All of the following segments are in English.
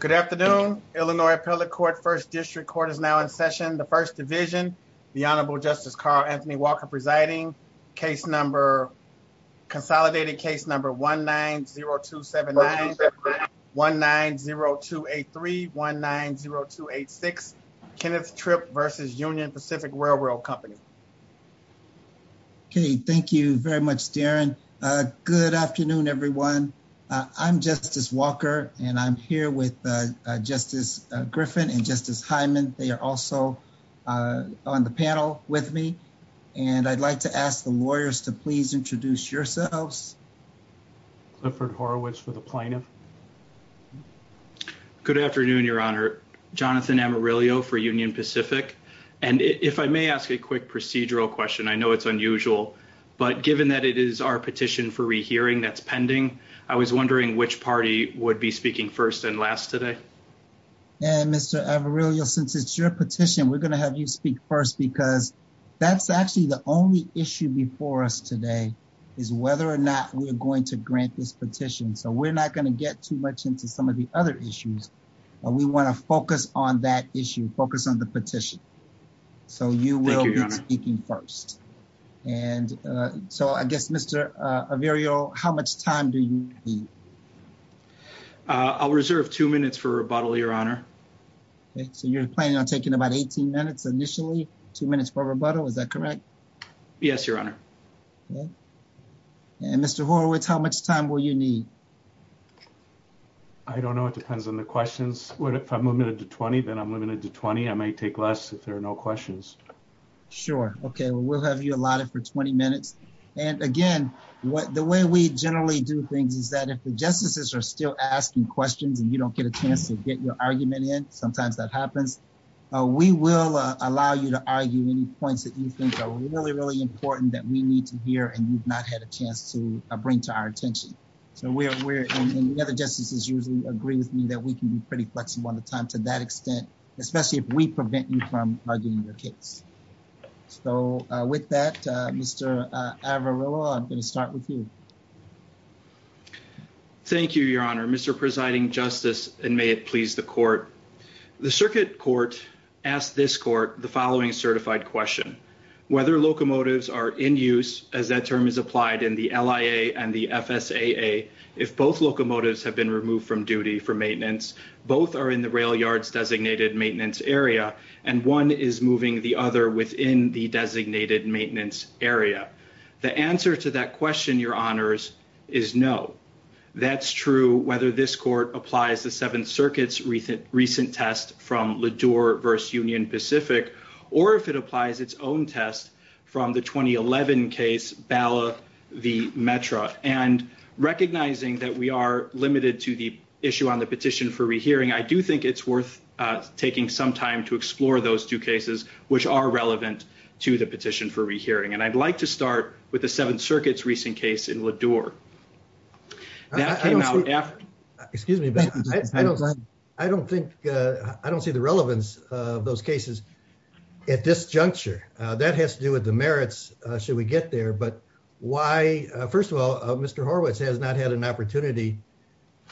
Good afternoon, Illinois Appellate Court, 1st District Court is now in session. The 1st Division, the Honorable Justice Carl Anthony Walker presiding. Case number, consolidated case number 1-9-0279 1-9-0283 1-9-0286, Kenneth Tripp versus Union Pacific Railroad Company. Okay, thank you very much Darren. Good afternoon everyone. I'm Justice Walker and I'm here with Justice Griffin and Justice Hyman. They are also on the panel with me and I'd like to ask the lawyers to please introduce yourselves. Clifford Horowitz for the plaintiff. Good afternoon, Your Honor. Jonathan Amarillo for Union Pacific and if I may ask a quick procedural question, I know it's unusual, but given that it is our petition for rehearing that's pending, I was wondering which party would be speaking first and last today. And Mr. Amarillo, since it's your petition, we're going to have you speak first because that's actually the only issue before us today is whether or not we're going to grant this petition. So we're not going to get too much into some of the other issues. We want to focus on that issue, focus on the petition. So you will be speaking first and so I guess Mr. Amarillo, how much time do you need? I'll reserve two minutes for rebuttal, Your Honor. Okay, so you're planning on taking about 18 minutes initially, two minutes for rebuttal, is that correct? Yes, Your Honor. And Mr. Horowitz, how much time will you need? I don't know, it depends on the questions. If I'm limited to 20, then I'm limited to 20. I may take less if there are no questions. Sure, okay, we'll have you allotted for 20 minutes. And again, the way we generally do things is that if the justices are still asking questions and you don't get a chance to get your argument in, sometimes that happens, we will allow you to argue any points that you think are really, really important that we need to hear and you've not had a chance to bring to our attention. And the other justices usually agree with me that we can be pretty flexible on the time to that extent, especially if we prevent you from arguing your Mr. Averill, I'm going to start with you. Thank you, Your Honor, Mr. Presiding Justice, and may it please the court. The circuit court asked this court the following certified question, whether locomotives are in use, as that term is applied in the LIA and the FSAA, if both locomotives have been removed from duty for maintenance, both are in the rail yards designated maintenance area, and one is moving the other within the designated maintenance area. The answer to that question, Your Honors, is no. That's true, whether this court applies the Seventh Circuit's recent test from LaDure versus Union Pacific, or if it applies its own test from the 2011 case, Bala v. Metra. And recognizing that we are limited to the issue on the petition for rehearing, I do think it's worth taking some time to explore those two cases which are relevant to the petition for rehearing. And I'd like to start with the Seventh Circuit's recent case in LaDure. That came out after... Excuse me, but I don't think, I don't see the relevance of those cases at this juncture. That has to do with the merits, should we get there, but why, first of all, Mr. Horwitz has had an opportunity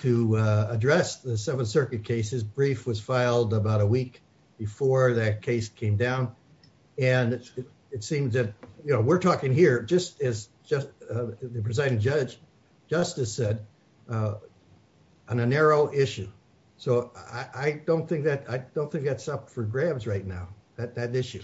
to address the Seventh Circuit case. His brief was filed about a week before that case came down, and it seems that, you know, we're talking here, just as the presiding judge, Justice said, on a narrow issue. So I don't think that's up for grabs right now, that issue.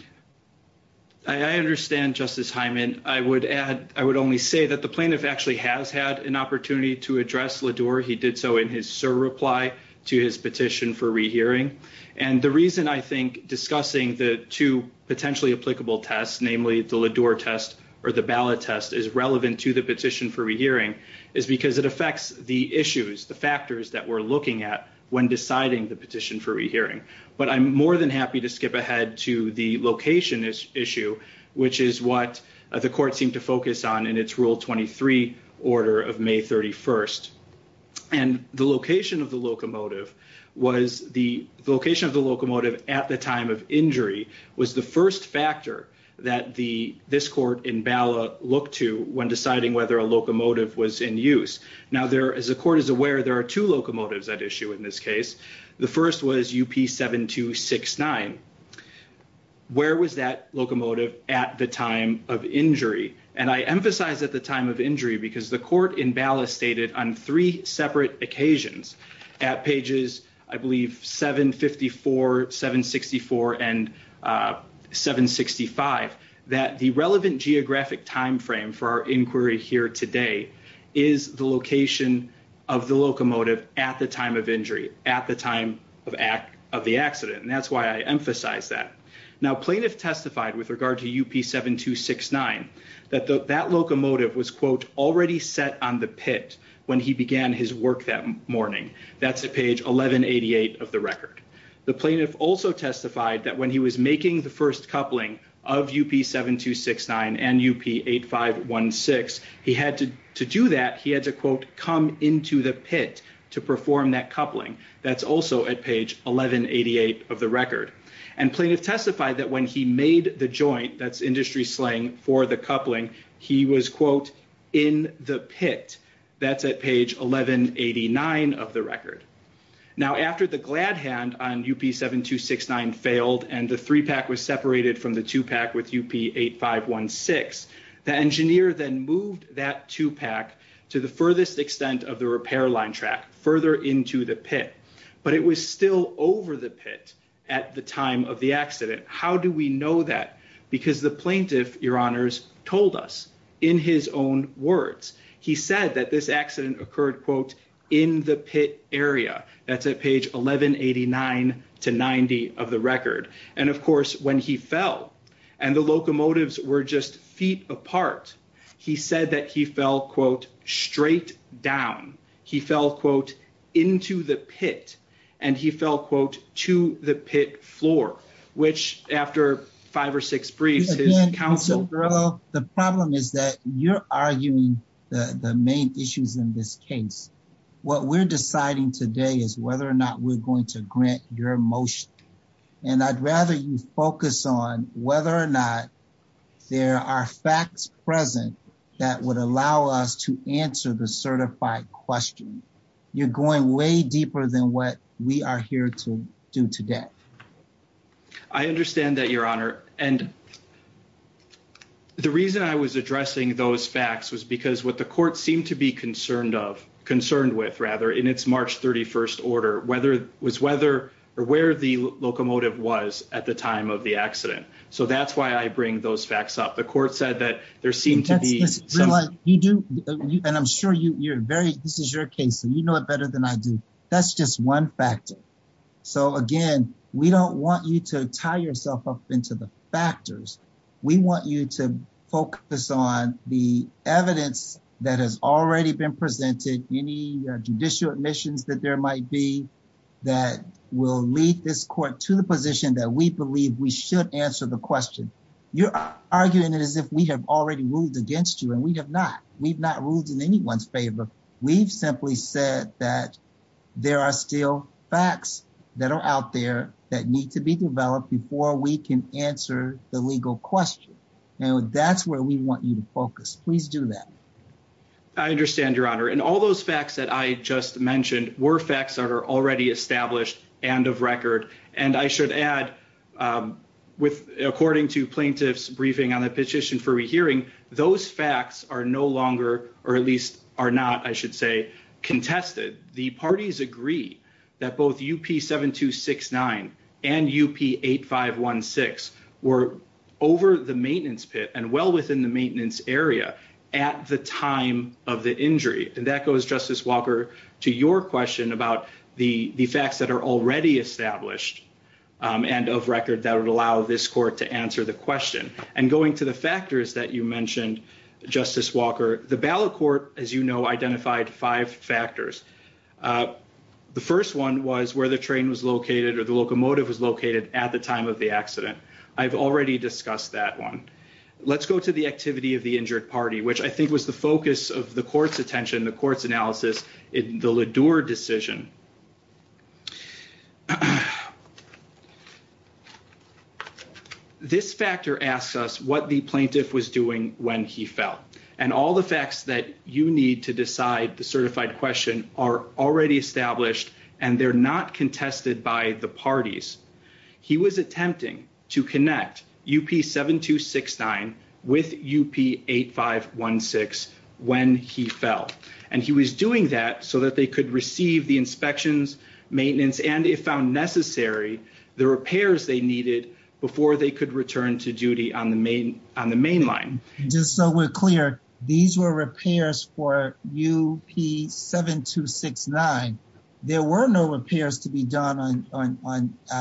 I understand, Justice Hyman. I would add, I would only say that the plaintiff actually has had an opportunity to address LaDure. He did so in his surreply to his petition for rehearing. And the reason I think discussing the two potentially applicable tests, namely the LaDure test or the ballot test, is relevant to the petition for rehearing is because it affects the issues, the factors that we're looking at when deciding the petition for rehearing. But I'm more than happy to skip ahead to the location issue, which is what the court seemed to focus on in its Rule 23 order of May 31st. And the location of the locomotive was the location of the locomotive at the time of injury was the first factor that this court in ballot looked to when deciding whether a locomotive was in use. Now, as the court is aware, there are two locomotives at issue in this case. The first was UP7269. Where was that locomotive at the time of injury? And I emphasize at the time of injury because the court in ballot stated on three separate occasions at pages, I believe, 754, 764 and 765 that the relevant geographic time frame for our inquiry here today is the location of the locomotive at the time of injury at the time of the accident. And that's why I emphasize that. Now, plaintiff testified with regard to UP7269 that that locomotive was, quote, already set on the pit when he began his work that morning. That's at page 1188 of the record. The plaintiff also testified that when he was making the first coupling of UP7269 and UP8516, he had to do that, he had to, quote, come into the pit to perform that coupling. That's also at page 1188 of the record. And plaintiff testified that when he made the joint, that's industry slang for the coupling, he was, quote, in the pit. That's at page 1189 of the record. Now, after the glad hand on UP7269 failed and the three pack was separated from the two pack with UP8516, the engineer then moved that two pack to the furthest extent of the repair line further into the pit. But it was still over the pit at the time of the accident. How do we know that? Because the plaintiff, your honors, told us in his own words. He said that this accident occurred, quote, in the pit area. That's at page 1189 to 90 of the record. And, of course, when he fell and the locomotives were just feet apart, he said that he fell, quote, straight down. He fell, quote, into the pit. And he fell, quote, to the pit floor, which after five or six briefs, his counsel... The problem is that you're arguing the main issues in this case. What we're deciding today is whether or not we're going to grant your motion. And I'd rather you focus on whether or not there are facts present that would allow us to answer the certified question. You're going way deeper than what we are here to do today. I understand that, your honor. And the reason I was addressing those facts was because what the court seemed to be concerned with in its March 31st order was where the locomotive was at the time of the accident. So that's why I bring those facts up. The court said that there seemed to be... And I'm sure this is your case, so you know it better than I do. That's just one factor. So again, we don't want you to tie yourself up into the factors. We want you to focus on the evidence that has already been presented, any judicial admissions that there might be, that will lead this court to the position that we believe we should answer the question. You're arguing it as if we have already ruled against you, and we have not. We've not ruled in anyone's favor. We've simply said that there are still facts that are out there that need to develop before we can answer the legal question. And that's where we want you to focus. Please do that. I understand, your honor. And all those facts that I just mentioned were facts that are already established and of record. And I should add, according to plaintiffs' briefing on the petition for rehearing, those facts are no longer, or at least are not, I should say, contested. The parties agree that both UP 7269 and UP 8516 were over the maintenance pit and well within the maintenance area at the time of the injury. And that goes, Justice Walker, to your question about the facts that are already established and of record that would allow this court to answer the question. And going to the factors that you mentioned, Justice Walker, the ballot court, as you know, identified five factors. The first one was where the train was located or the locomotive was located at the time of the accident. I've already discussed that one. Let's go to the activity of the injured party, which I think was the focus of the court's attention, the court's analysis in the LaDure decision. This factor asks us what the plaintiff was doing when he fell. And all the facts that you need to decide the certified question are already established and they're not contested by the parties. He was attempting to connect UP 7269 with UP 8516 when he fell. And he was doing that so they could receive the inspections, maintenance, and if found necessary, the repairs they needed before they could return to duty on the main line. Just so we're clear, these were repairs for UP 7269. There were no repairs to be done on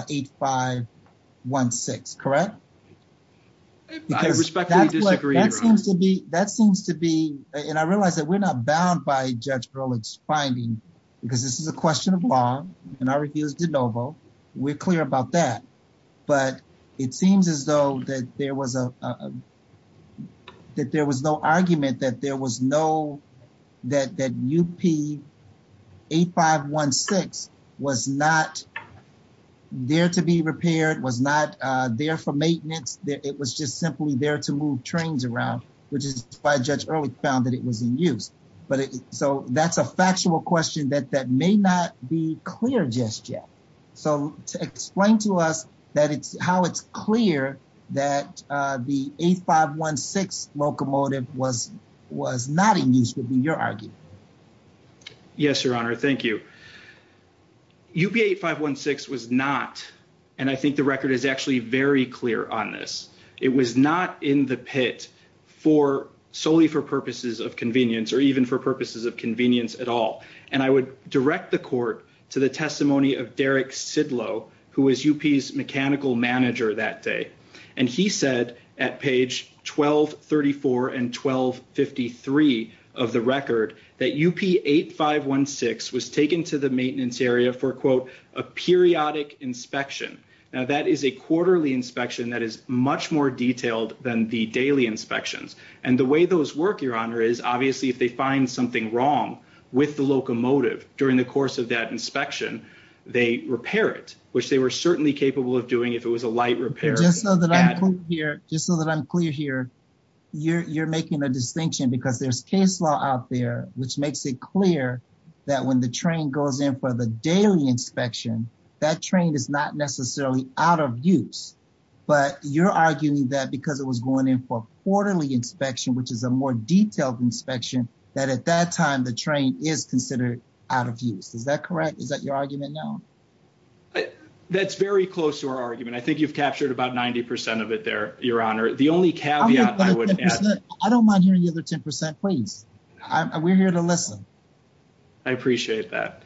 8516, correct? I respectfully disagree, Your Honor. That seems to be, and I realize that we're not bound by Judge Berlitz's finding, because this is a question of law and I refuse de novo. We're clear about that. But it seems as though that there was no argument that UP 8516 was not there to be repaired, was not there for which is why Judge Berlitz found that it was in use. So that's a factual question that may not be clear just yet. So explain to us how it's clear that the 8516 locomotive was not in use would be your argument. Yes, Your Honor. Thank you. UP 8516 was not, and I think the record is actually very clear on this. It was not in the pit for solely for purposes of convenience or even for purposes of convenience at all. And I would direct the court to the testimony of Derek Sidlow, who was UP's mechanical manager that day. And he said at page 1234 and 1253 of the record that UP 8516 was taken to the maintenance area for, quote, a periodic inspection. Now that is a quarterly inspection that is much more detailed than the daily inspections. And the way those work, Your Honor, is obviously if they find something wrong with the locomotive during the course of that inspection, they repair it, which they were certainly capable of doing if it was a light repair. Just so that I'm clear here, you're making a distinction because there's case law out there which makes it clear that when the train goes in for the daily inspection, that train is not necessarily out of use. But you're arguing that because it was going in for quarterly inspection, which is a more detailed inspection, that at that time the train is considered out of use. Is that correct? Is that your argument now? That's very close to our argument. I think you've captured about 90% of it there, Your Honor. The only caveat I would add... I don't mind hearing the other 10%, please. We're here to listen. I appreciate that.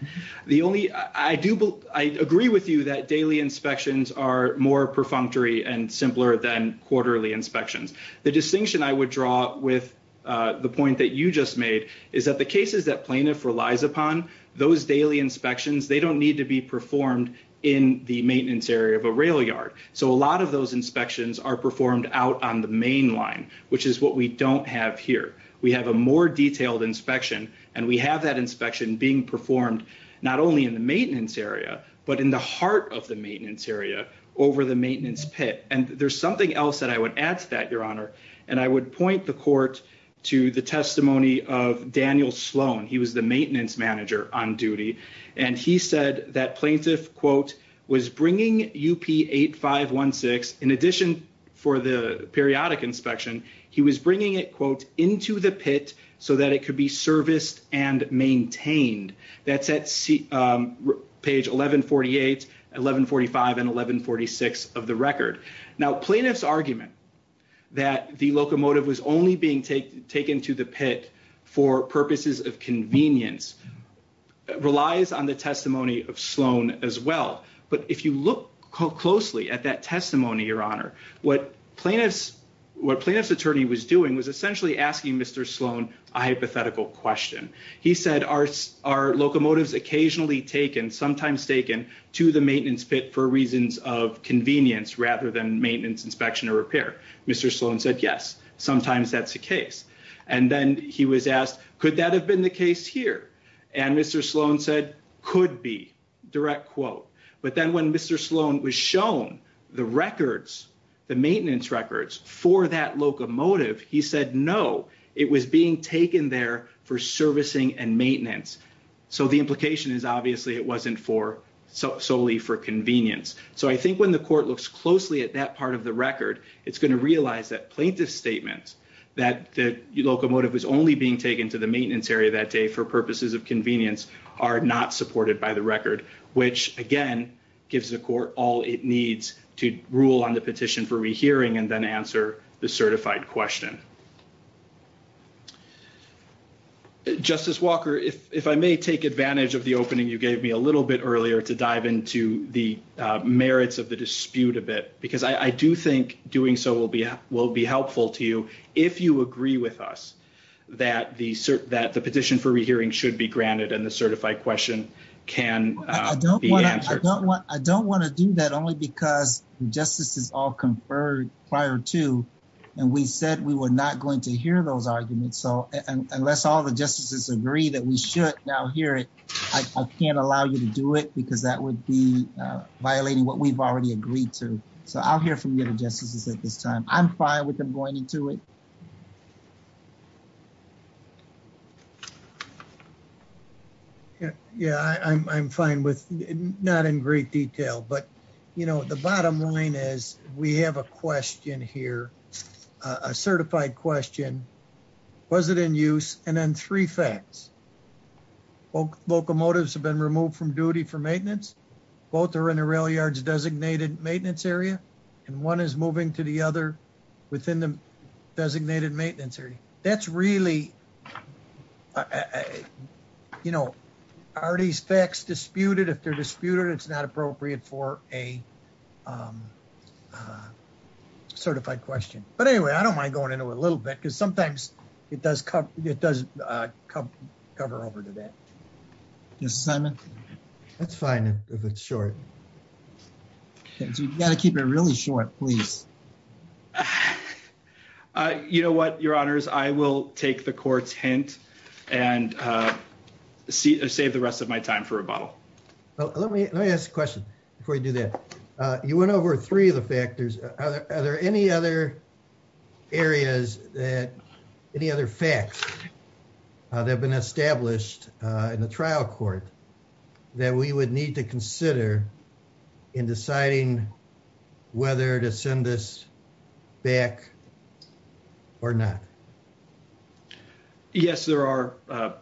I agree with you that daily inspections are more perfunctory and simpler than quarterly inspections. The distinction I would draw with the point that you just made is that the cases that plaintiff relies upon, those daily inspections, they don't need to be performed in the maintenance area of a rail yard. So a lot of those inspections are performed out on the main line, which is what we don't have here. We have a more detailed inspection, and we have that inspection being performed not only in the maintenance area, but in the heart of the maintenance area, over the maintenance pit. And there's something else that I would add to that, Your Honor. And I would point the court to the testimony of Daniel Sloan. He was the maintenance manager on duty. And he said that plaintiff, quote, was bringing UP8516, in addition for the periodic inspection, he was bringing it, quote, into the pit so that it could be serviced and maintained. That's at page 1148, 1145, and 1146 of the record. Now, plaintiff's argument that the locomotive was only being taken to the pit for purposes of convenience relies on the testimony of Sloan as well. But if you look closely at that testimony, Your Honor, what plaintiff's attorney was doing was essentially asking Mr. Sloan a hypothetical question. He said, are locomotives occasionally taken, sometimes taken, to the maintenance pit for reasons of convenience rather than maintenance, inspection, or repair? Mr. Sloan said, sometimes that's the case. And then he was asked, could that have been the case here? And Mr. Sloan said, could be, direct quote. But then when Mr. Sloan was shown the records, the maintenance records for that locomotive, he said, no, it was being taken there for servicing and maintenance. So the implication is obviously it wasn't for solely for convenience. So I think the court looks closely at that part of the record, it's going to realize that plaintiff's statement that the locomotive was only being taken to the maintenance area that day for purposes of convenience are not supported by the record, which, again, gives the court all it needs to rule on the petition for rehearing and then answer the certified question. Justice Walker, if I may take advantage of the opening you gave me a little bit earlier to dive into the merits of the dispute a bit, because I do think doing so will be helpful to you if you agree with us that the petition for rehearing should be granted and the certified question can be answered. I don't want to do that only because the justices all conferred prior to, and we said we were not going to hear those arguments. So unless all the justices agree that we should now hear it, I can't allow you to do it because that would be violating what we've already agreed to. So I'll hear from the other justices at this time. I'm fine with them going into it. Yeah, I'm fine with not in great detail, but you know, the bottom line is we have a question here, a certified question. Was it in use? And then three facts. Locomotives have been removed from duty for maintenance. Both are in the rail yards designated maintenance area, and one is moving to the other within the designated maintenance area. That's really, you know, are these facts disputed? If they're disputed, it's not appropriate for a certified question. But anyway, I don't mind going into a little bit because sometimes it does cover over to that. Yes, Simon. That's fine if it's short. You've got to keep it really short, please. You know what, your honors, I will take the court's hint and save the rest of my time for Let me ask a question before you do that. You went over three of the factors. Are there any other areas that any other facts that have been established in the trial court that we would need to consider in deciding whether to send this back or not? Yes, there are,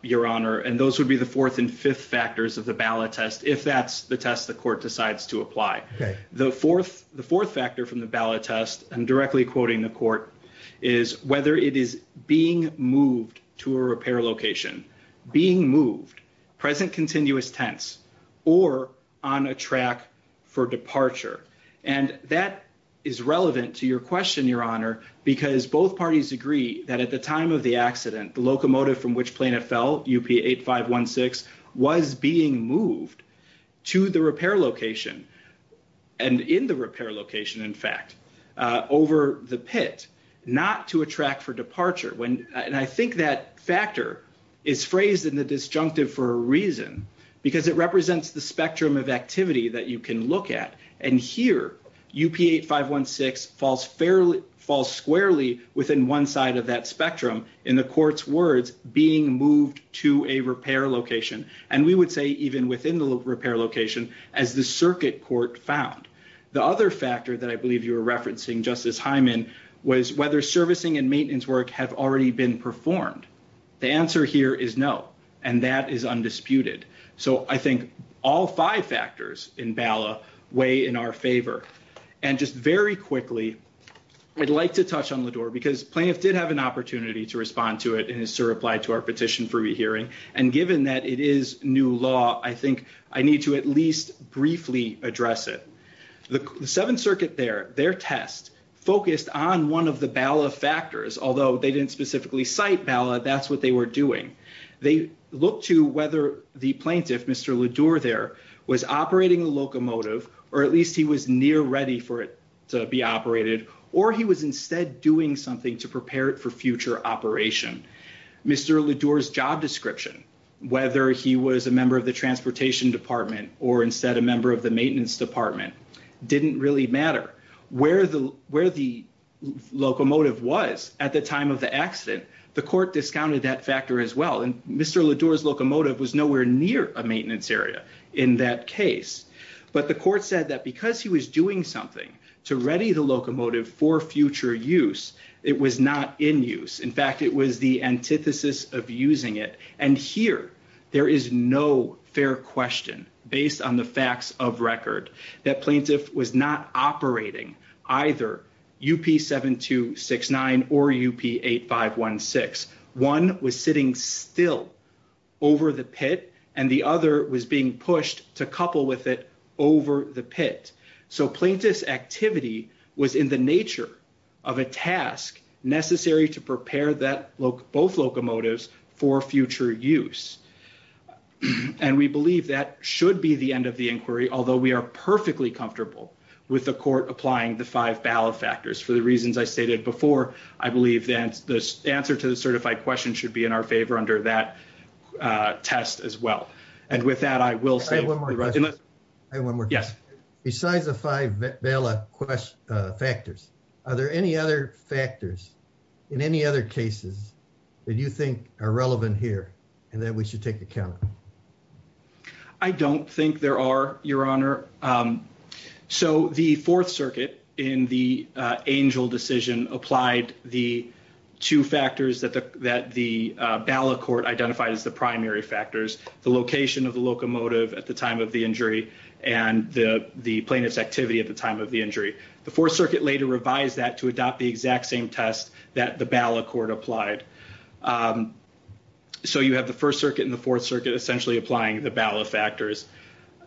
your honor, and those would be the fourth and fifth factors of the ballot test if that's the test the court decides to apply. The fourth factor from the ballot test, I'm directly quoting the court, is whether it is being moved to a repair location, being moved, present continuous tense, or on a track for departure. And that is relevant to your question, your honor, because both parties agree that at the time of the accident, the locomotive from which plane it fell, UP8516, was being moved to the repair location, and in the repair location, in fact, over the pit, not to a track for departure. And I think that factor is phrased in the disjunctive for a reason because it represents the spectrum of activity that you can look at. And here, UP8516 falls squarely within one side of that spectrum in the court's words, being moved to a repair location. And we would say even within the repair location as the circuit court found. The other factor that I believe you were referencing, Justice Hyman, was whether servicing and maintenance work have already been performed. The answer here is no, and that is undisputed. So I think all five factors in BALA weigh in our favor. And just very quickly, I'd like to touch on Lador because plaintiff did have an opportunity to respond to it in his reply to our petition for rehearing, and given that it is new law, I think I need to at least briefly address it. The Seventh Circuit there, their test focused on one of the BALA factors, although they didn't specifically cite BALA, that's what they were doing. They looked to whether the plaintiff, Mr. Lador there, was operating a locomotive, or at least he was near ready for it to be operated, or he was instead doing something to prepare it for future operation. Mr. Lador's job description, whether he was a member of the transportation department or instead a member of the maintenance department, didn't really matter. Where the locomotive was at the time of the accident, the court discounted that factor as well, and Mr. Lador's locomotive was nowhere near a maintenance area in that case. But the court said that because he was doing something to ready the locomotive for future use, it was not in use. In fact, it was the antithesis of using it. And here, there is no fair question based on the facts of UP 7269 or UP 8516. One was sitting still over the pit, and the other was being pushed to couple with it over the pit. So plaintiff's activity was in the nature of a task necessary to prepare that both locomotives for future use. And we believe that should be the end of the inquiry, although we are perfectly comfortable with the court applying the five ballot factors for the reasons I stated before. I believe that the answer to the certified question should be in our favor under that test as well. And with that, I will say... I have one more question. Yes. Besides the five ballot factors, are there any other factors in any other cases that you think are relevant here and that we should take account of? I don't think there are, Your Honor. So the Fourth Circuit in the Angel decision applied the two factors that the ballot court identified as the primary factors, the location of the locomotive at the time of the injury and the plaintiff's activity at the time of the injury. The Fourth Circuit later revised that to adopt the exact same test that the ballot court applied. So you have the First Circuit and the Fourth Circuit essentially applying the ballot factors.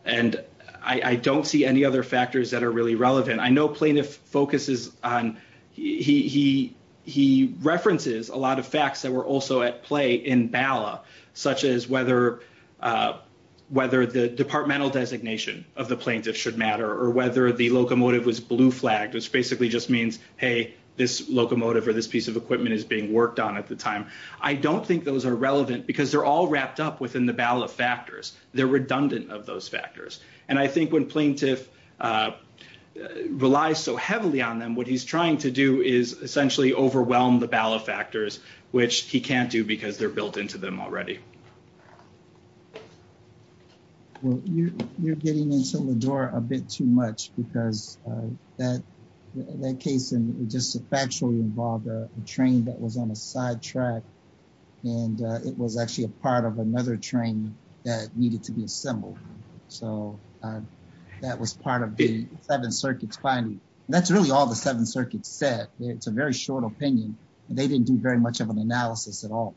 And I don't see any other factors that are really relevant. I know plaintiff focuses on... he references a lot of facts that were also at play in ballot, such as whether the departmental designation of the plaintiff should matter or whether the locomotive was blue flagged, which basically just means, hey, this locomotive or this piece of equipment is being worked on at the time. I don't think those are relevant because they're all wrapped up within the ballot factors. They're redundant of those factors. And I think when plaintiff relies so heavily on them, what he's trying to do is essentially overwhelm the ballot factors, which he can't do because they're built into them already. Well, you're getting into the door a bit too much because that case just factually involved a train that was on a sidetrack and it was actually a part of another train that needed to be assembled. So that was part of the Seventh Circuit's finding. That's really all the Seventh Circuit said. It's a very short opinion. They didn't do very much of an analysis at all.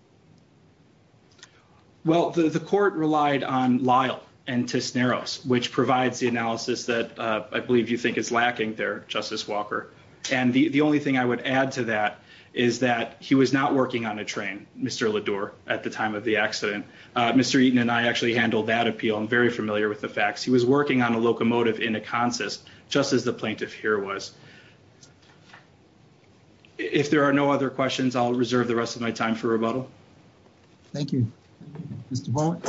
Well, the court relied on Lyle and Tisneros, which provides the analysis that I believe you think is lacking there, Justice Walker. And the only thing I would add to that is that he was not working on a train, Mr. Ledour, at the time of the accident. Mr. Eaton and I actually handled that appeal. I'm very familiar with the facts. He was working on a locomotive in a consist, just as the plaintiff here was. If there are no other questions, I'll reserve the rest of my time for rebuttal. Thank you. Mr. Bowen.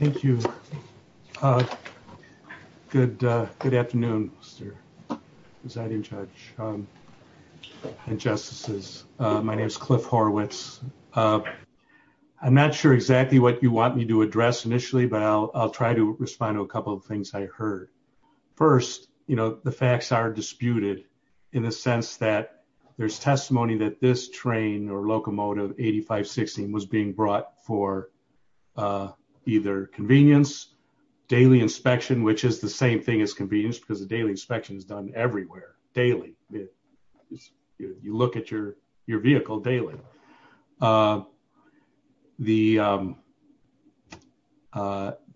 Thank you. Good afternoon, Mr. Presiding Judge and Justices. My name is Cliff Horwitz. I'm not sure exactly what you want me to address initially, but I'll try to respond to a couple of in the sense that there's testimony that this train or locomotive 8516 was being brought for either convenience, daily inspection, which is the same thing as convenience because the daily inspection is done everywhere daily. You look at your vehicle daily.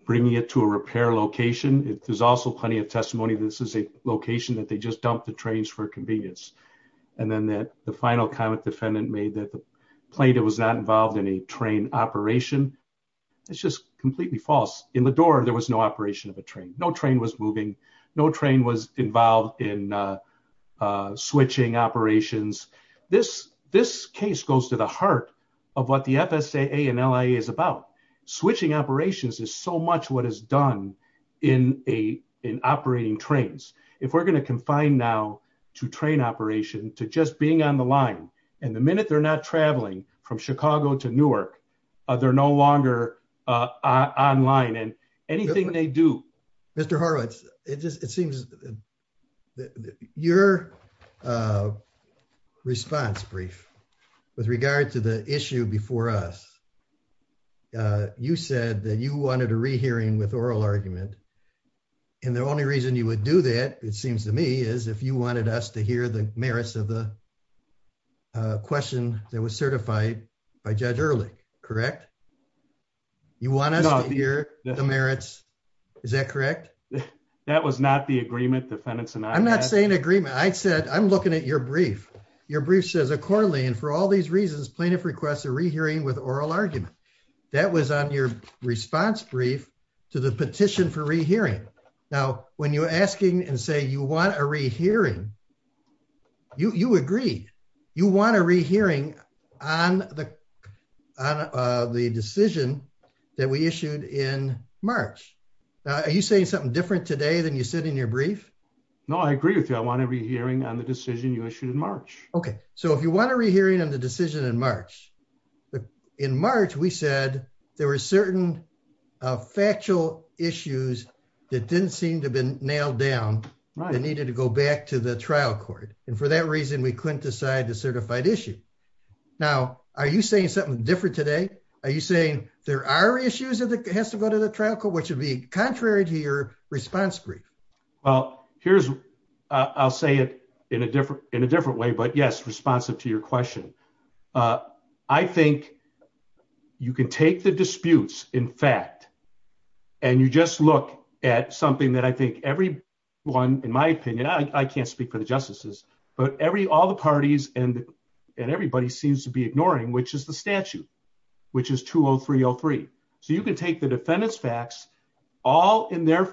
Bringing it to a repair location. There's also plenty of testimony. This is a location that just dumped the trains for convenience. Then the final comment defendant made that the plaintiff was not involved in a train operation. It's just completely false. In Ledour, there was no operation of a train. No train was moving. No train was involved in switching operations. This case goes to the heart of what the FSAA and LIA is about. Switching operations is so much what done in operating trains. If we're going to confine now to train operation, to just being on the line and the minute they're not traveling from Chicago to Newark, they're no longer online and anything they do. Mr. Horwitz, it seems that your response brief with regard to the issue before us, you said that you wanted a rehearing with oral argument and the only reason you would do that, it seems to me, is if you wanted us to hear the merits of the question that was certified by Judge Erlich, correct? You want us to hear the merits, is that correct? That was not the agreement defendants and I had. I'm not saying agreement. I said I'm looking at your brief. Your brief says accordingly and for all these reasons plaintiff requests a rehearing with oral argument. That was on your response brief to the petition for rehearing. Now when you're asking and say you want a rehearing, you agree. You want a rehearing on the decision that we issued in March. Now are you saying something different today than you said in your brief? No, I agree with you. I want a rehearing on the decision you issued in March. Okay, so if you want a rehearing on the decision in March, in March we said there were certain factual issues that didn't seem to have been nailed down that needed to go back to the trial court and for that reason we couldn't decide the certified issue. Now are you saying something different today? Are you saying there are issues that has to go to the trial court, which would be contrary to your response brief? Well, I'll say it in a different way, but yes responsive to your question. I think you can take the disputes in fact and you just look at something that I think everyone in my opinion, I can't speak for the justices, but all the parties and everybody seems to be ignoring which is the statute, which is 20303. So you can take the defendant's facts all in their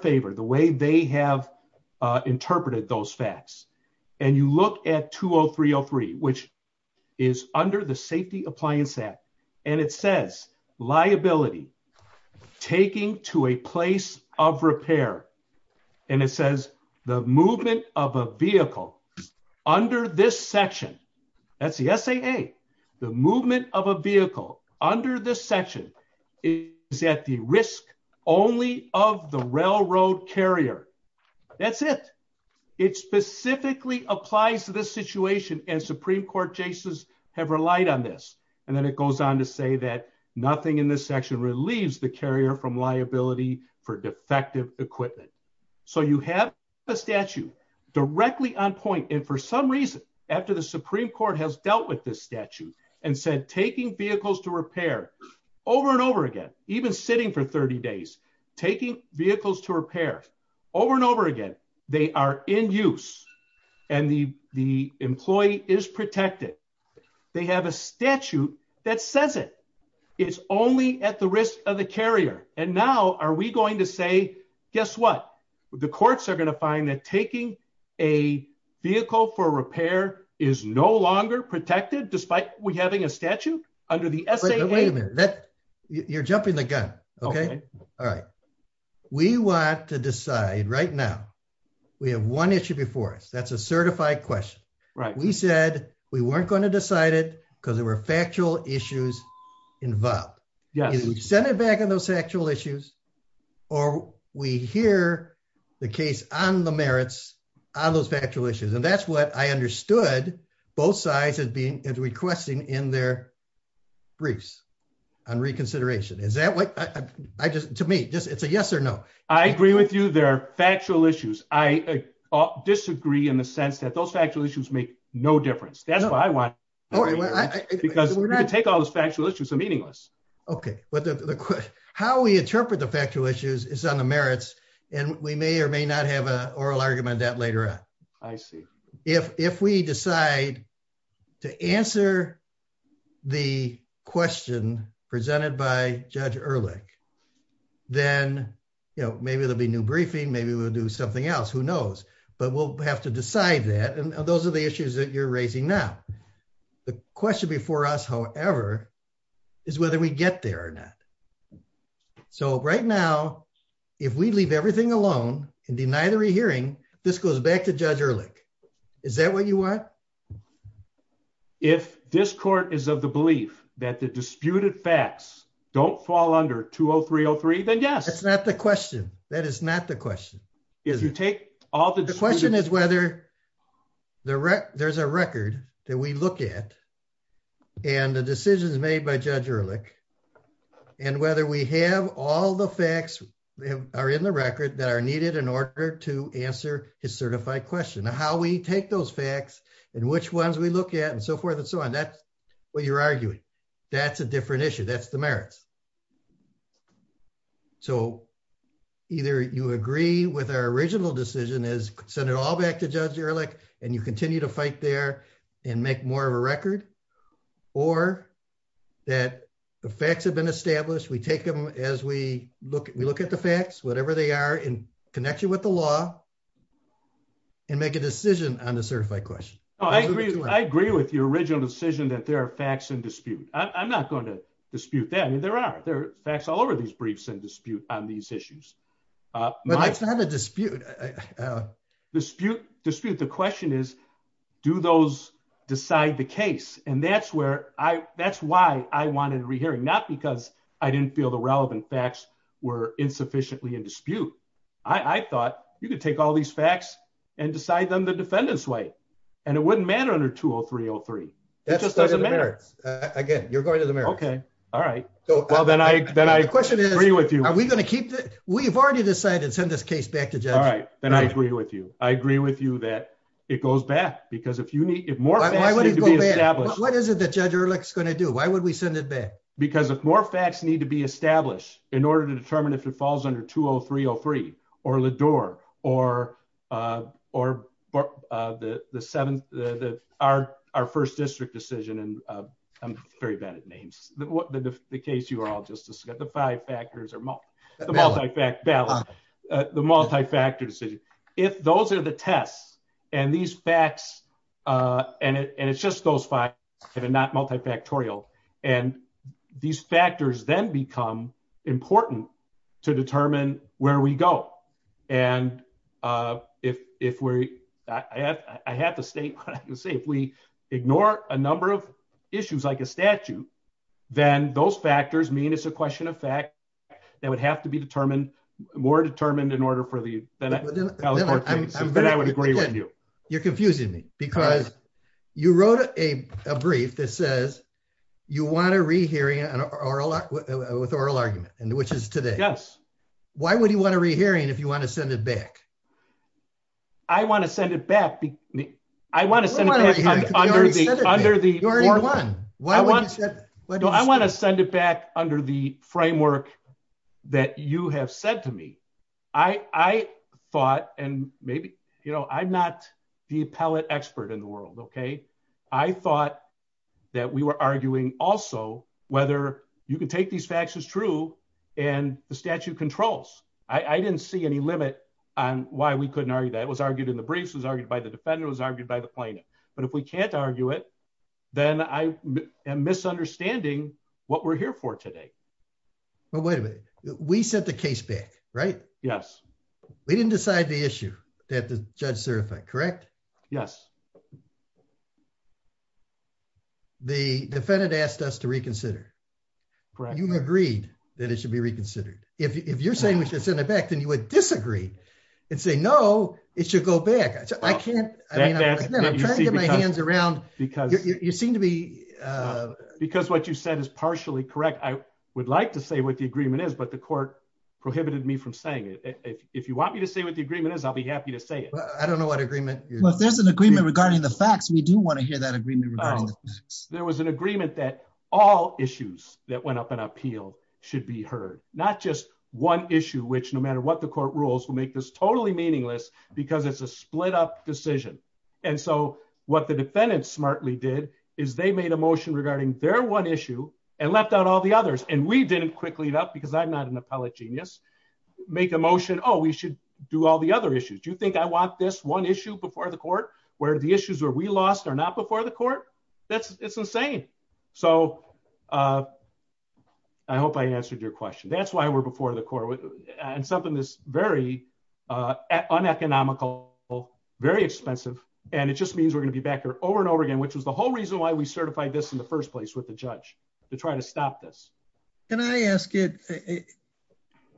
interpreted those facts and you look at 20303, which is under the Safety Appliance Act and it says liability taking to a place of repair and it says the movement of a vehicle under this section, that's the SAA, the movement of a vehicle under this section is at the risk only of the railroad carrier. That's it. It specifically applies to this situation and Supreme Court justices have relied on this and then it goes on to say that nothing in this section relieves the carrier from liability for defective equipment. So you have a statute directly on point and for some reason after the Supreme Court has dealt with this statute and said taking vehicles to repair over and over again, even sitting for 30 days, taking vehicles to repair over and over again, they are in use and the employee is protected. They have a statute that says it. It's only at the risk of the carrier and now are we going to say, guess what? The courts are going to find that taking a vehicle for repair is no longer protected despite we having a statute under the SAA. Wait a minute. You're jumping the gun. Okay. All right. We want to decide right now. We have one issue before us. That's a certified question. We said we weren't going to decide it because there were factual issues involved. Either we send it back on those factual issues or we hear the case on the merits on those factual issues and that's what I understood both sides as requesting in their briefs on reconsideration. To me, it's a yes or no. I agree with you. There are factual issues. I disagree in the sense that those factual issues make no difference. That's what I want because you can take all those factual issues. They're meaningless. Okay. How we interpret the factual issues is on the merits and we may or may not have an oral argument on that later on. I see. If we decide to answer the question presented by Judge Erlich, then maybe there'll be new briefing. Maybe we'll do something else. Who knows? But we'll have to decide that. Those are the issues that you're raising now. The question before us, however, is whether we get there or not. Right now, if we leave everything alone and deny the re-hearing, this goes back to Judge Erlich. Is that what you want? If this court is of the belief that the disputed facts don't fall under 20303, then yes. That's not the question. That is not the question. The question is whether there's a record that we look at and the decisions made by Judge Erlich and whether we have all the facts that are in the record that are needed in order to answer his certified question. How we take those facts and which ones we look at and so forth and so on, that's what you're arguing. That's a different issue. That's the merits. So, either you agree with our original decision as send it all back to Judge Erlich and you facts have been established. We take them as we look at the facts, whatever they are, and connect you with the law and make a decision on the certified question. I agree with your original decision that there are facts in dispute. I'm not going to dispute that. I mean, there are. There are facts all over these briefs and dispute on these issues. But that's not a dispute. Dispute. The question is, do those decide the case? And that's why I wanted re-hearing. Not because I didn't feel the relevant facts were insufficiently in dispute. I thought you could take all these facts and decide them the defendant's way. And it wouldn't matter under 203-03. It just doesn't matter. Again, you're going to the merits. Okay. All right. Well, then I, then I agree with you. Are we going to keep that? We've already decided to send this case back to Judge Erlich. All right. Then I agree with you. I agree with you that it goes back because if you need, if more facts need to be established. What is it that Judge Erlich's going to do? Why would we send it back? Because if more facts need to be established in order to determine if it falls under 203-03 or the door or, or the, the seventh, the, the, our, our first district decision, and I'm very bad at names. The case you were all just discussing, the five factors or the multi-factor decision. If those are the tests and these facts and it, and it's just those five and not multifactorial and these factors then become important to determine where we go. And if, if we're, I have, I have to state what I can say, if we ignore a number of issues like a statute, then those factors mean it's a question of fact that would have to be determined more determined in order for the, then I would agree with you. You're confusing me because you wrote a, a brief that says you want to re-hearing an oral, with oral argument and which is today. Yes. Why would he want to re-hearing if you want to send it back? I want to send it back. I want to send it back under the, under the framework that you have said me. I, I thought, and maybe, you know, I'm not the appellate expert in the world. Okay. I thought that we were arguing also whether you can take these facts as true and the statute controls. I didn't see any limit on why we couldn't argue that. It was argued in the briefs, it was argued by the defender, it was argued by the plaintiff. But if we can't argue it, then I am misunderstanding what we're here for today. Well, wait a minute. We sent the case back, right? Yes. We didn't decide the issue that the judge certified, correct? Yes. The defendant asked us to reconsider. Correct. You agreed that it should be reconsidered. If you're saying we should send it back, then you would disagree and say, no, it should go back. I can't, I mean, I'm trying to get my hands around, because you seem to be, because what you said is partially correct. I would like to say what the agreement is, but the court prohibited me from saying it. If you want me to say what the agreement is, I'll be happy to say it. I don't know what agreement. Well, if there's an agreement regarding the facts, we do want to hear that agreement. There was an agreement that all issues that went up in appeal should be heard, not just one issue, which no matter what the court rules will make this totally meaningless because it's a split up decision. And so what the defendant smartly did is they made a motion regarding their one issue and left out all the others. And we didn't quickly enough, because I'm not an appellate genius, make a motion. Oh, we should do all the other issues. Do you think I want this one issue before the court where the issues where we lost are not before the court? That's insane. So I hope I answered your question. That's why we're before the court and something that's very uneconomical, very expensive. And it just means we're going to be back here over and over again, which was the whole reason why we certified this in the first place with the judge to try to stop this. Can I ask it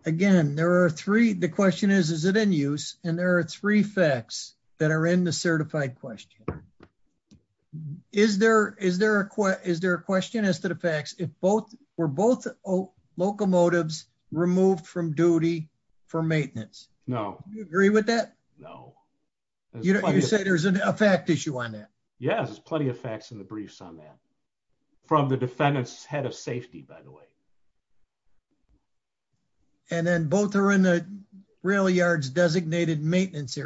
again? There are three. The question is, is it in use? And there are three facts that are in the certified question. Is there a question as to the facts? Were both locomotives removed from duty for maintenance? No. Do you agree with that? No. You say there's a fact issue on that? Yes, there's plenty of facts in the briefs on that from the defendant's head of safety, by the way. And then both are in the maintenance area and a convenience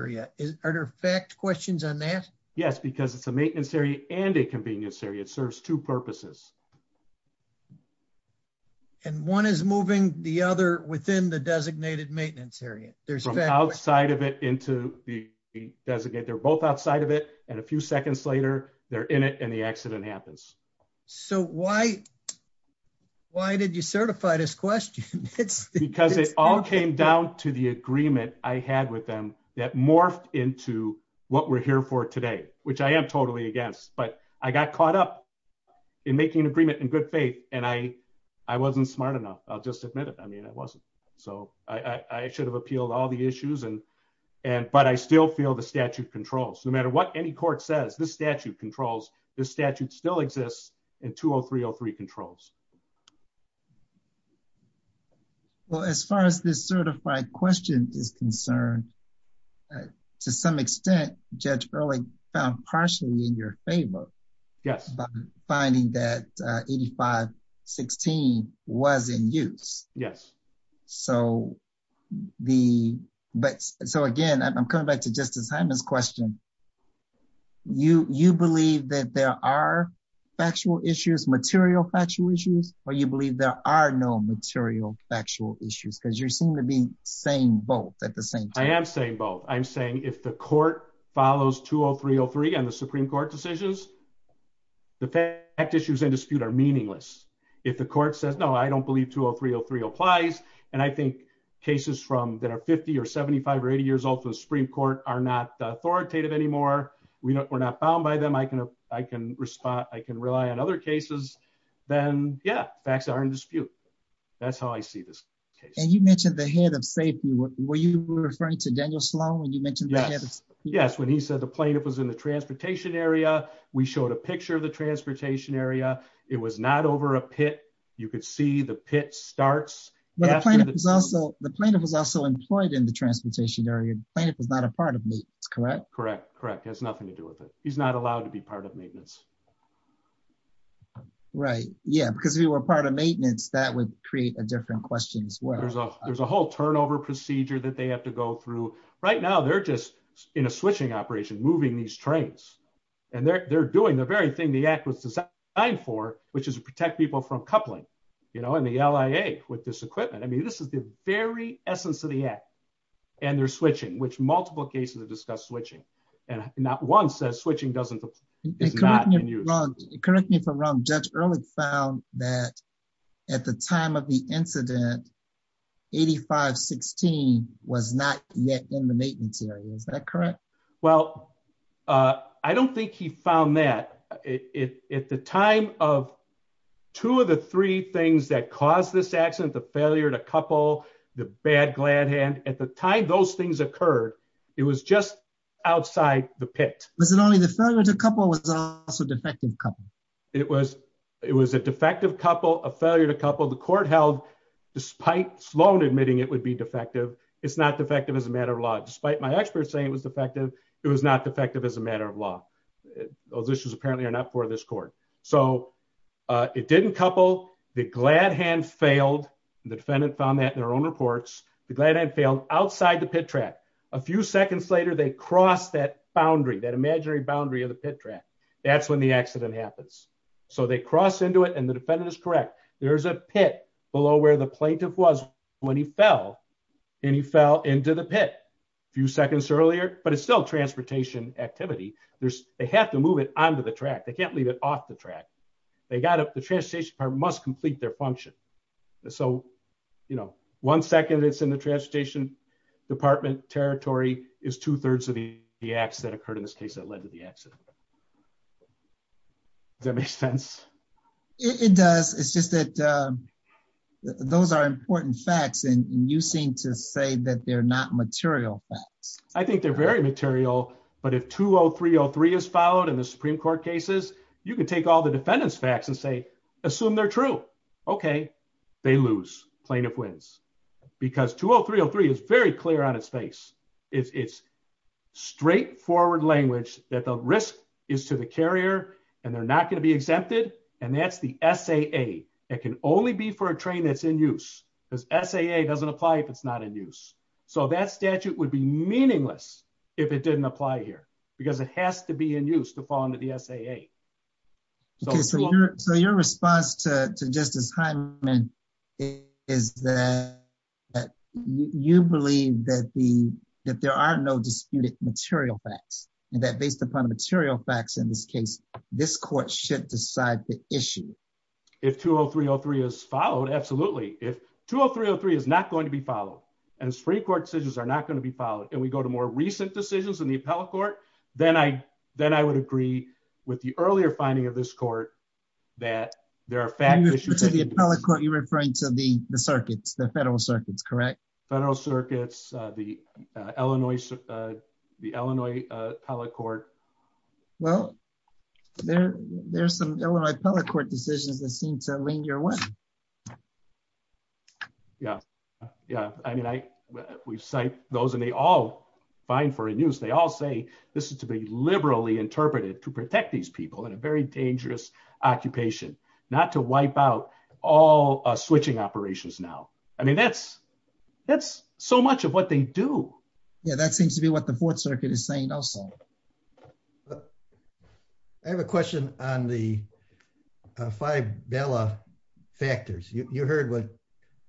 area. It serves two purposes. And one is moving the other within the designated maintenance area. There's outside of it into the designated. They're both outside of it. And a few seconds later, they're in it and the accident happens. So why? Why did you certify this question? It's because it all came down to the agreement I had with them that morphed into what we're here for today, which I am totally against. But I got caught up in making an agreement in good faith, and I wasn't smart enough. I'll just admit it. I mean, I wasn't. So I should have appealed all the issues. But I still feel the statute controls. No matter what any court says, this statute controls. This statute still exists in 20303 controls. Well, as far as this certified question is concerned, to some extent, Judge Early found partially in your favor. Yes. Finding that 8516 was in use. Yes. So the but so again, I'm coming back to Justice Hyman's question. You you believe that there are factual issues, material factual issues, or you believe there are no material factual issues because you seem to be saying both at the same time. I am saying both. I'm saying if the court follows 20303 and the Supreme Court decisions, the fact issues and dispute are meaningless. If the court says, no, I don't believe 20303 applies. And I think cases from that are 50 or 75 or 80 years old for the Supreme Court are not authoritative anymore. We're not bound by them. I can I can respond. I can rely on other cases. Then Yeah, facts are in dispute. That's how I see this. And you mentioned the head of safety. Were you referring to Daniel Sloan when you mentioned? Yes, when he said the plaintiff was in the transportation area. We showed a picture of the transportation area. It was not over a pit. You could see the pit starts. The plaintiff was also employed in the transportation area. Plaintiff was not a part of me. Correct. Correct. Correct. Has nothing to do with it. He's allowed to be part of maintenance. Right. Yeah, because we were part of maintenance that would create a different questions. Well, there's a there's a whole turnover procedure that they have to go through right now. They're just in a switching operation, moving these trains and they're doing the very thing the act was designed for, which is to protect people from coupling, you know, in the LIA with this equipment. I mean, this is the very essence of the act and they're switching, which multiple cases have discussed switching. And not one says switching doesn't. Correct me if I'm wrong. Judge Ehrlich found that at the time of the incident, 85 16 was not yet in the maintenance area. Is that correct? Well, I don't think he found that it at the time of two of the three things that caused this accident, the failure to couple the bad glad hand at the time those things occurred. It was just outside the pit. Was it only the failure to couple with a defective couple? It was it was a defective couple, a failure to couple the court held despite Sloan admitting it would be defective. It's not defective as a matter of law. Despite my experts saying it was defective, it was not defective as a matter of law. Those issues apparently are not for this court. So it didn't couple the glad hand failed. The defendant found that in their own reports. The glad hand failed outside the pit track. A few seconds later, they crossed that boundary, that imaginary boundary of the pit track. That's when the accident happens. So they cross into it and the defendant is correct. There is a pit below where the plaintiff was when he fell and he fell into the pit a few seconds earlier, but it's still transportation activity. They have to move it onto the track. They can't leave it off the track. The transportation department must complete their function. So one second it's in the transportation department territory is two-thirds of the acts that occurred in this case that led to the accident. Does that make sense? It does. It's just that those are important facts and you seem to say that they're not material facts. I think they're material, but if 20303 is followed in the Supreme Court cases, you can take all the defendant's facts and say, assume they're true. Okay. They lose plaintiff wins because 20303 is very clear on its face. It's straightforward language that the risk is to the carrier and they're not going to be exempted. And that's the SAA. It can only be for a train that's in use because SAA doesn't apply if it's not in use. So that statute would be meaningless if it didn't apply here because it has to be in use to fall into the SAA. So your response to Justice Hyman is that you believe that there are no disputed material facts and that based upon material facts in this case, this court should decide the issue. If 20303 is followed, absolutely. If 20303 is not going to be followed and Supreme Court decisions are not going to be followed and we go to more recent decisions in the appellate court, then I would agree with the earlier finding of this court that there are fact issues. To the appellate court, you're referring to the circuits, the federal circuits, correct? Federal circuits, the Illinois appellate court. Well, there's some Illinois appellate court decisions that seem to lean your way. Yeah. Yeah. I mean, we cite those and they all find for a news. They all say this is to be liberally interpreted to protect these people in a very dangerous occupation, not to wipe out all switching operations now. I mean, that's so much of what they do. Yeah, that seems to be what the Fourth Circuit is saying also. But I have a question on the five Bella factors. You heard what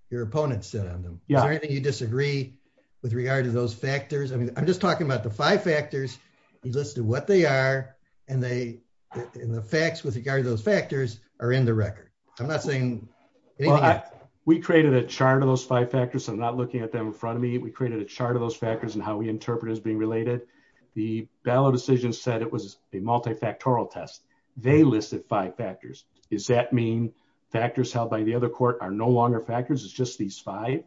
your opponent said on them. Is there anything you disagree with regard to those factors? I mean, I'm just talking about the five factors. You listed what they are and the facts with regard to those factors are in the record. I'm not saying anything. We created a chart of those five factors. I'm not looking at them in front of me. We created a chart of those factors and how we interpret is being related. The ballot decision said it was a multifactorial test. They listed five factors. Is that mean factors held by the other court are no longer factors? It's just these five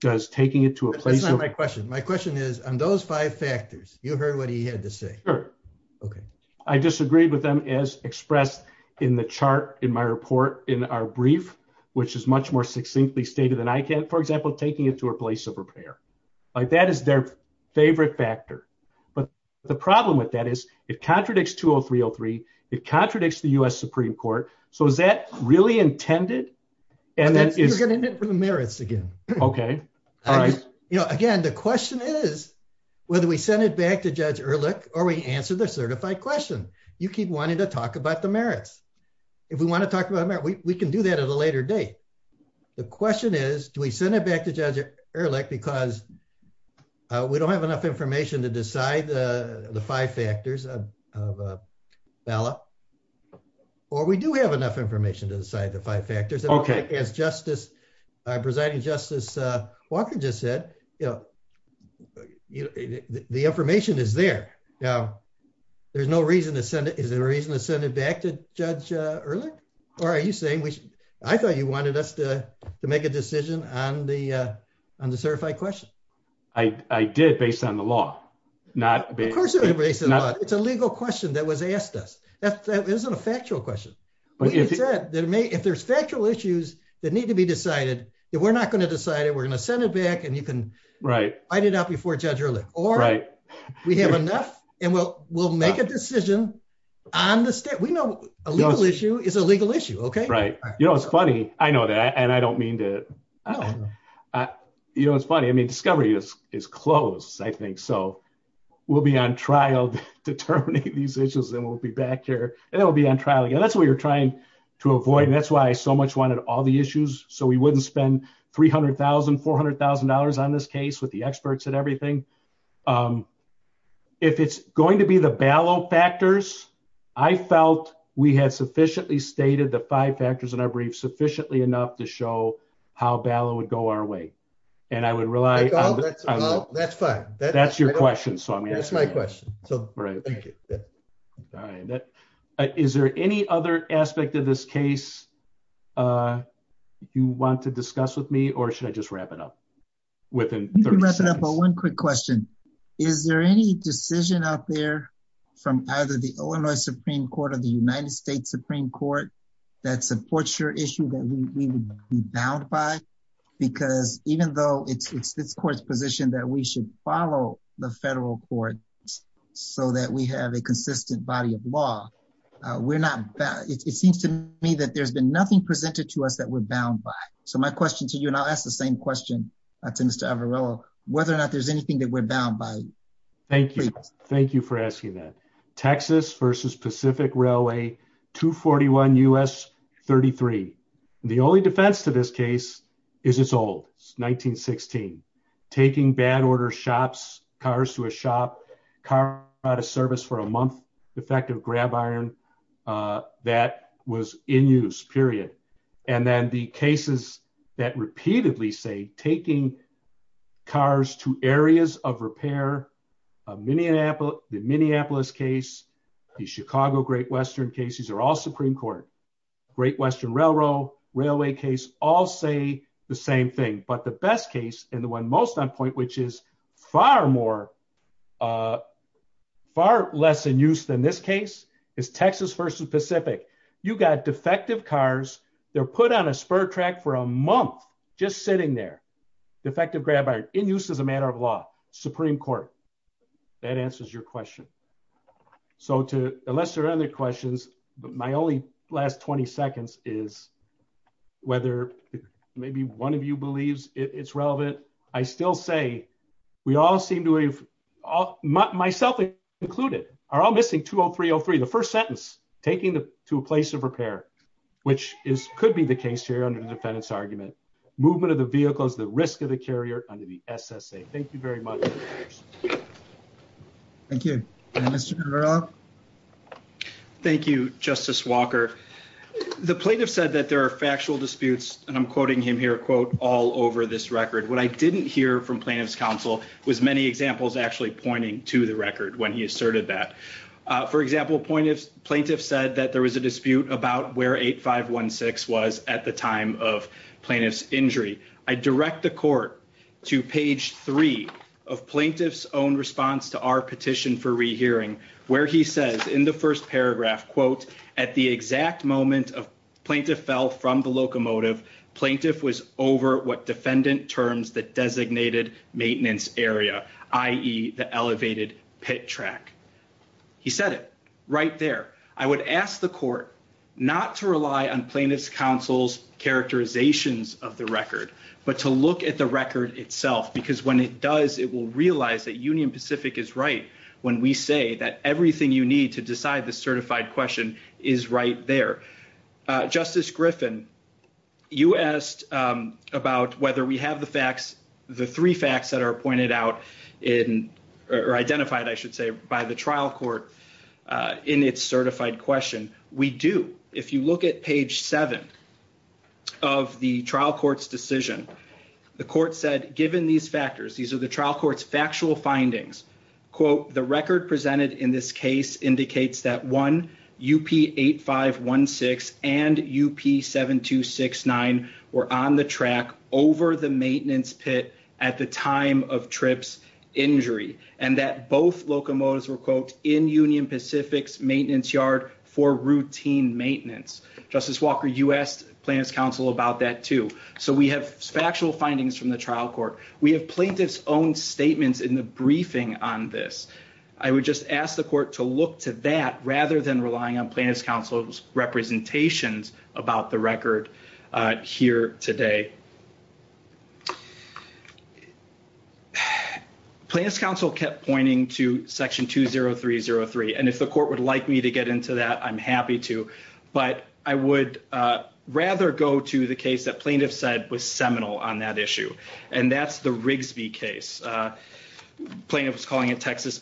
does taking it to a place of my question. My question is on those five factors, you heard what he had to say. Okay. I disagree with them as expressed in the chart in my report in our brief, which is much more succinctly stated than I can, for example, taking it to a place of like that is their favorite factor. But the problem with that is it contradicts 20303. It contradicts the U.S. Supreme Court. So is that really intended? And that is going to admit for the merits again. Okay. All right. You know, again, the question is whether we send it back to Judge Ehrlich or we answer the certified question, you keep wanting to talk about the merits. If we want to talk about that, we can do that at a later date. The question is, do we send it back to Judge Ehrlich because we don't have enough information to decide the five factors of ballot or we do have enough information to decide the five factors? Okay. As Justice, Presiding Justice Walker just said, you know, the information is there. Now, there's no reason to send it. Is there a reason to send it back to Judge Ehrlich? Or are you I thought you wanted us to make a decision on the on the certified question. I did based on the law, not based on the law. It's a legal question that was asked us. That isn't a factual question. If there's factual issues that need to be decided that we're not going to decide it, we're going to send it back and you can write it out before Judge Ehrlich or we have enough and we'll we'll make a decision on the state. We know a legal issue is a legal issue. Okay, right. You know, it's funny. I know that and I don't mean to. You know, it's funny. I mean, discovery is is closed. I think so. We'll be on trial determining these issues and we'll be back here and it'll be on trial again. That's what you're trying to avoid. And that's why I so much wanted all the issues so we wouldn't spend 300,000, $400,000 on this case with the experts and everything. Um, if it's going to be the ballot factors, I felt we had sufficiently stated the five factors in our brief sufficiently enough to show how ballot would go our way. And I would rely that's fine. That's your question. So that's my question. So right. Thank you. Is there any other aspect of this case? You want to discuss with me or should I just wrap it up? But one quick question. Is there any decision out there from either the Illinois Supreme Court of the United States Supreme Court that supports your issue that we would be bound by? Because even though it's this court's position that we should follow the federal court so that we have a consistent body of law, we're not bad. It seems to me that there's been nothing presented to us we're bound by. So my question to you, and I'll ask the same question to Mr. Averello, whether or not there's anything that we're bound by. Thank you. Thank you for asking that. Texas versus Pacific Railway, 241 U.S. 33. The only defense to this case is it's old. It's 1916. Taking bad order shops, cars to a shop, car out of service for a month, effective grab iron, uh, that was in use, period. And then the cases that repeatedly say taking cars to areas of repair, uh, Minneapolis, the Minneapolis case, the Chicago Great Western cases are all Supreme Court. Great Western Railroad, railway case, all say the same thing. But the best case and the one most on point, which is far more, uh, far less in use than this case is Texas versus Pacific. You got defective cars. They're put on a spur track for a month, just sitting there. Defective grab iron in use as a matter of law, Supreme Court. That answers your question. So to, unless there are other questions, but my only last 20 seconds is whether maybe one of you believes it's relevant. I still say we all seem to have, myself included are all missing 20303. The first sentence taking the, to a place of repair, which is, could be the case here under the defendant's argument, movement of the vehicles, the risk of the carrier under the SSA. Thank you very much. Thank you. Thank you, Justice Walker. The plaintiff said that there are factual disputes and I'm quoting him here, quote all over this record. What I didn't hear from plaintiff's was many examples actually pointing to the record when he asserted that, uh, for example, point of plaintiff said that there was a dispute about where eight five one six was at the time of plaintiff's injury. I direct the court to page three of plaintiff's own response to our petition for rehearing where he says in the first paragraph quote, at the exact moment of plaintiff fell from the locomotive, plaintiff was over what defendant terms that designated maintenance area, i.e. the elevated pit track. He said it right there. I would ask the court not to rely on plaintiff's counsel's characterizations of the record, but to look at the record itself because when it does, it will realize that union Pacific is right. When we say that everything you need to decide this certified question is right there. Justice Griffin, you asked about whether we have the facts, the three facts that are pointed out in or identified, I should say, by the trial court in its certified question. We do. If you look at page seven of the trial court's decision, the court said, given these factors, these are the trial court's factual findings, quote, the record presented in this case indicates that one UP 8516 and UP 7269 were on the track over the maintenance pit at the time of trip's injury and that both locomotives were, quote, in union Pacific's maintenance yard for routine maintenance. Justice Walker, you asked plaintiff's counsel about that, too. So we have factual findings from the trial court. We have plaintiff's counsel's own statements in the briefing on this. I would just ask the court to look to that rather than relying on plaintiff's counsel's representations about the record here today. Plaintiff's counsel kept pointing to section 20303, and if the court would like me to get into that, I'm happy to, but I would rather go to the case that plaintiff said was seminal on that case. Plaintiff was calling it Texas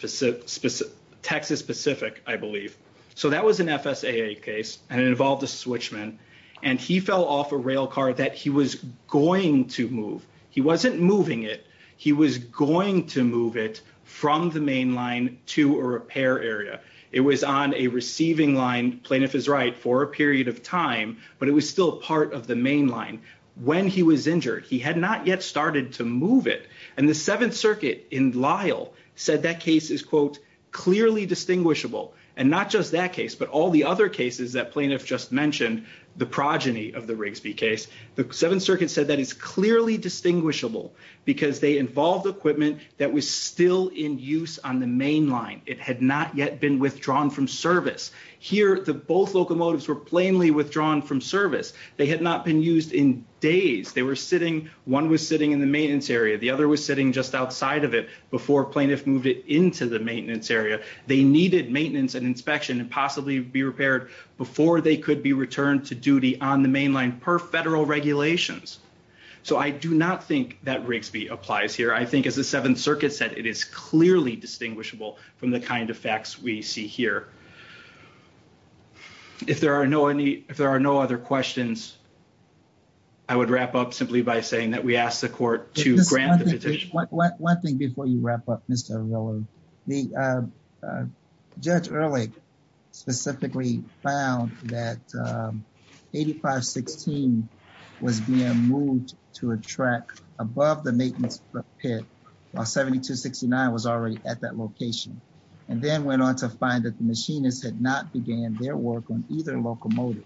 Pacific, I believe. So that was an FSAA case, and it involved a switchman, and he fell off a rail car that he was going to move. He wasn't moving it. He was going to move it from the main line to a repair area. It was on a receiving line, plaintiff is right, for a period of time, but it was still part of the main line. When he was going to move it, it was still part of the main line. The 7th circuit in Lyle said that case is quote, clearly distinguishable, and not just that case, but all the other cases that plaintiff just mentioned, the progeny of the Rigsby case, the 7th circuit said that it's clearly distinguishable because they involved equipment that was still in use on the main line. It had not yet been withdrawn from service. Here, both locomotives were plainly withdrawn from service. They had not been used in just outside of it before plaintiff moved it into the maintenance area. They needed maintenance and inspection and possibly be repaired before they could be returned to duty on the main line per federal regulations. So I do not think that Rigsby applies here. I think as the 7th circuit said, it is clearly distinguishable from the kind of facts we see here. If there are no other questions, I would wrap up simply by saying that we asked the court to grant the petition. One thing before you wrap up, Mr. O'Rourke. Judge Ehrlich specifically found that 8516 was being moved to a track above the maintenance pit while 7269 was already at that location, and then went on to find that the machinists had not began their work on either locomotive.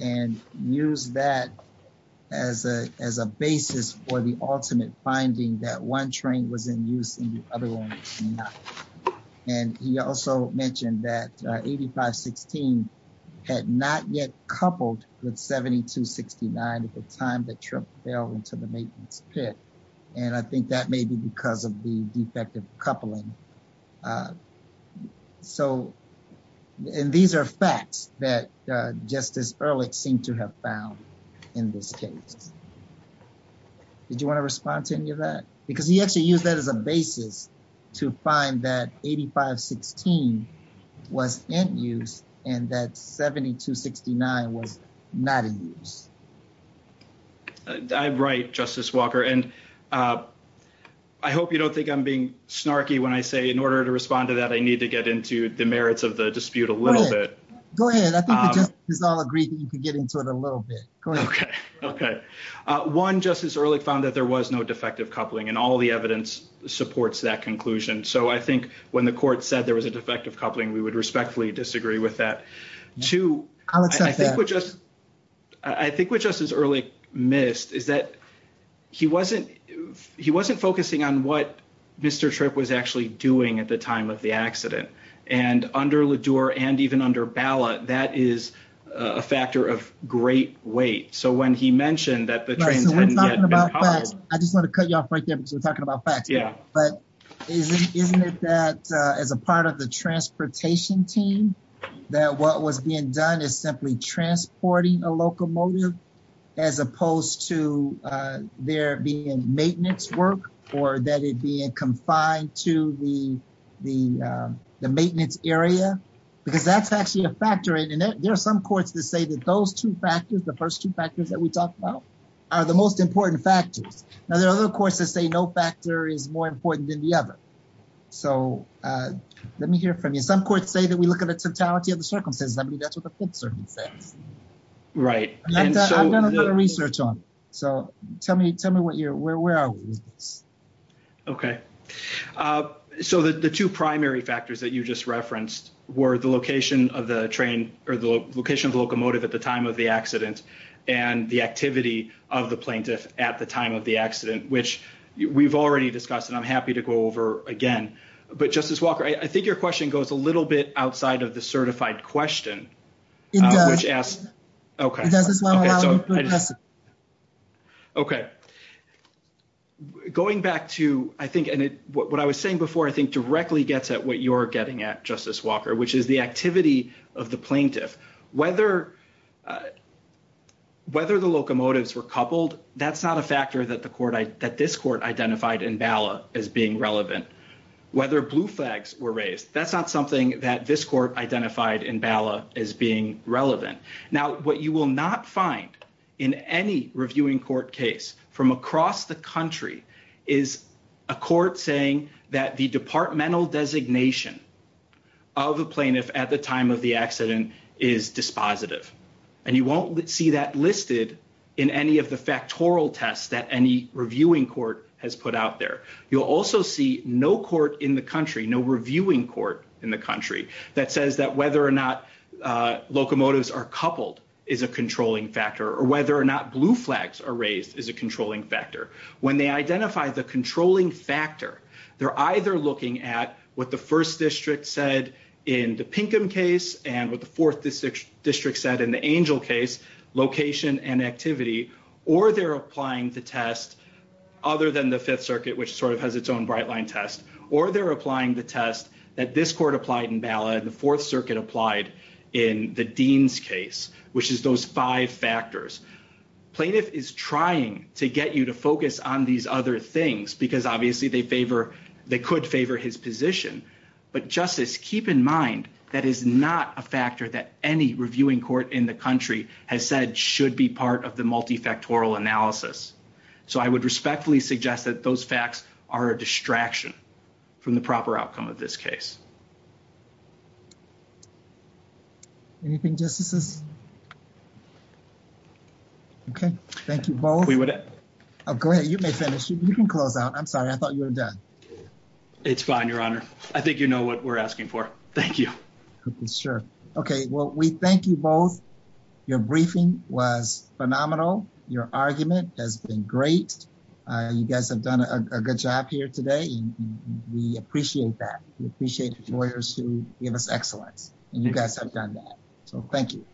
And used that as a basis for the ultimate finding that one train was in use and the other one was not. And he also mentioned that 8516 had not yet coupled with 7269 at the time the trip fell into the maintenance pit. And I think that may be because of the defective coupling. So, and these are facts that Justice Ehrlich seemed to have found in this case. Did you want to respond to any of that? Because he actually used that as a basis to find that 8516 was in use and that 7269 was not in use. I'm right, Justice Walker. And I hope you don't think I'm being snarky when I say in order to respond to that, I need to get into the merits of the dispute a little bit. Go ahead. I think the judges all agree that you can get into it a little bit. Okay. Okay. One, Justice Ehrlich found that there was no defective coupling and all the evidence supports that conclusion. So I think when the court said there was a defective coupling, we would respectfully disagree with that. Two, I think we're just, I think we're just as early missed is that he wasn't, he wasn't focusing on what Mr. Tripp was actually doing at the time of the accident. And under LaDure and even under ballot, that is a factor of great weight. So when he mentioned that the train hadn't yet been hauled. I just want to cut you off right there because we're talking about facts. But isn't it that as a part of the transportation team, that what was being done is simply transporting a locomotive as opposed to there being maintenance work or that it being confined to the maintenance area, because that's actually a factor in it. There are some courts that say that those two factors, the first two factors that we talked about are the most important factors. Now there are other courts that say no factor is more important than the other. So let me hear from you. Some courts say that we look at the totality of the circumstances. I Right. And so I've done a lot of research on it. So tell me, tell me what your, where are we? Okay. So the two primary factors that you just referenced were the location of the train or the location of the locomotive at the time of the accident and the activity of the plaintiff at the time of the accident, which we've already discussed and I'm happy to go over again. But Justice Walker, I think your question goes a little bit outside of the certified question, which asks, okay. Okay. Going back to, I think, and what I was saying before, I think directly gets at what you're getting at Justice Walker, which is the activity of the plaintiff, whether the locomotives were coupled, that's not a factor that this court identified in BALA as being relevant. Whether blue flags were raised, that's not something that this court identified in BALA as being relevant. Now, what you will not find in any reviewing court case from across the country is a court saying that the departmental designation of a plaintiff at the time of the accident is dispositive. And you won't see that listed in any of the factorial tests that any reviewing court has put out there. You'll also see no court in the country, no reviewing court in the country that says that whether or not locomotives are coupled is a controlling factor, or whether or not blue flags are raised is a controlling factor. When they identify the controlling factor, they're either looking at what the first district said in the Pinkham case and what the fourth district said in the Angel case, location and activity, or they're applying the test other than the Fifth Circuit, which sort of has its own bright line test, or they're applying the test that this court applied in BALA and the Fourth Circuit applied in the Dean's case, which is those five factors. Plaintiff is trying to get you to focus on these other things because obviously they favor, they could favor his position. But Justice, keep in mind, that is not a factor that any reviewing court in the country has said should be part of multi-factorial analysis. So I would respectfully suggest that those facts are a distraction from the proper outcome of this case. Anything, Justices? Okay, thank you both. Oh, go ahead, you may finish. You can close out. I'm sorry, I thought you were done. It's fine, Your Honor. I think you know what we're asking for. Thank you. Okay, sure. Okay, well, we thank you both. Your briefing was phenomenal. Your argument has been great. You guys have done a good job here today. We appreciate that. We appreciate the lawyers who give us excellence, and you guys have done that. So thank you.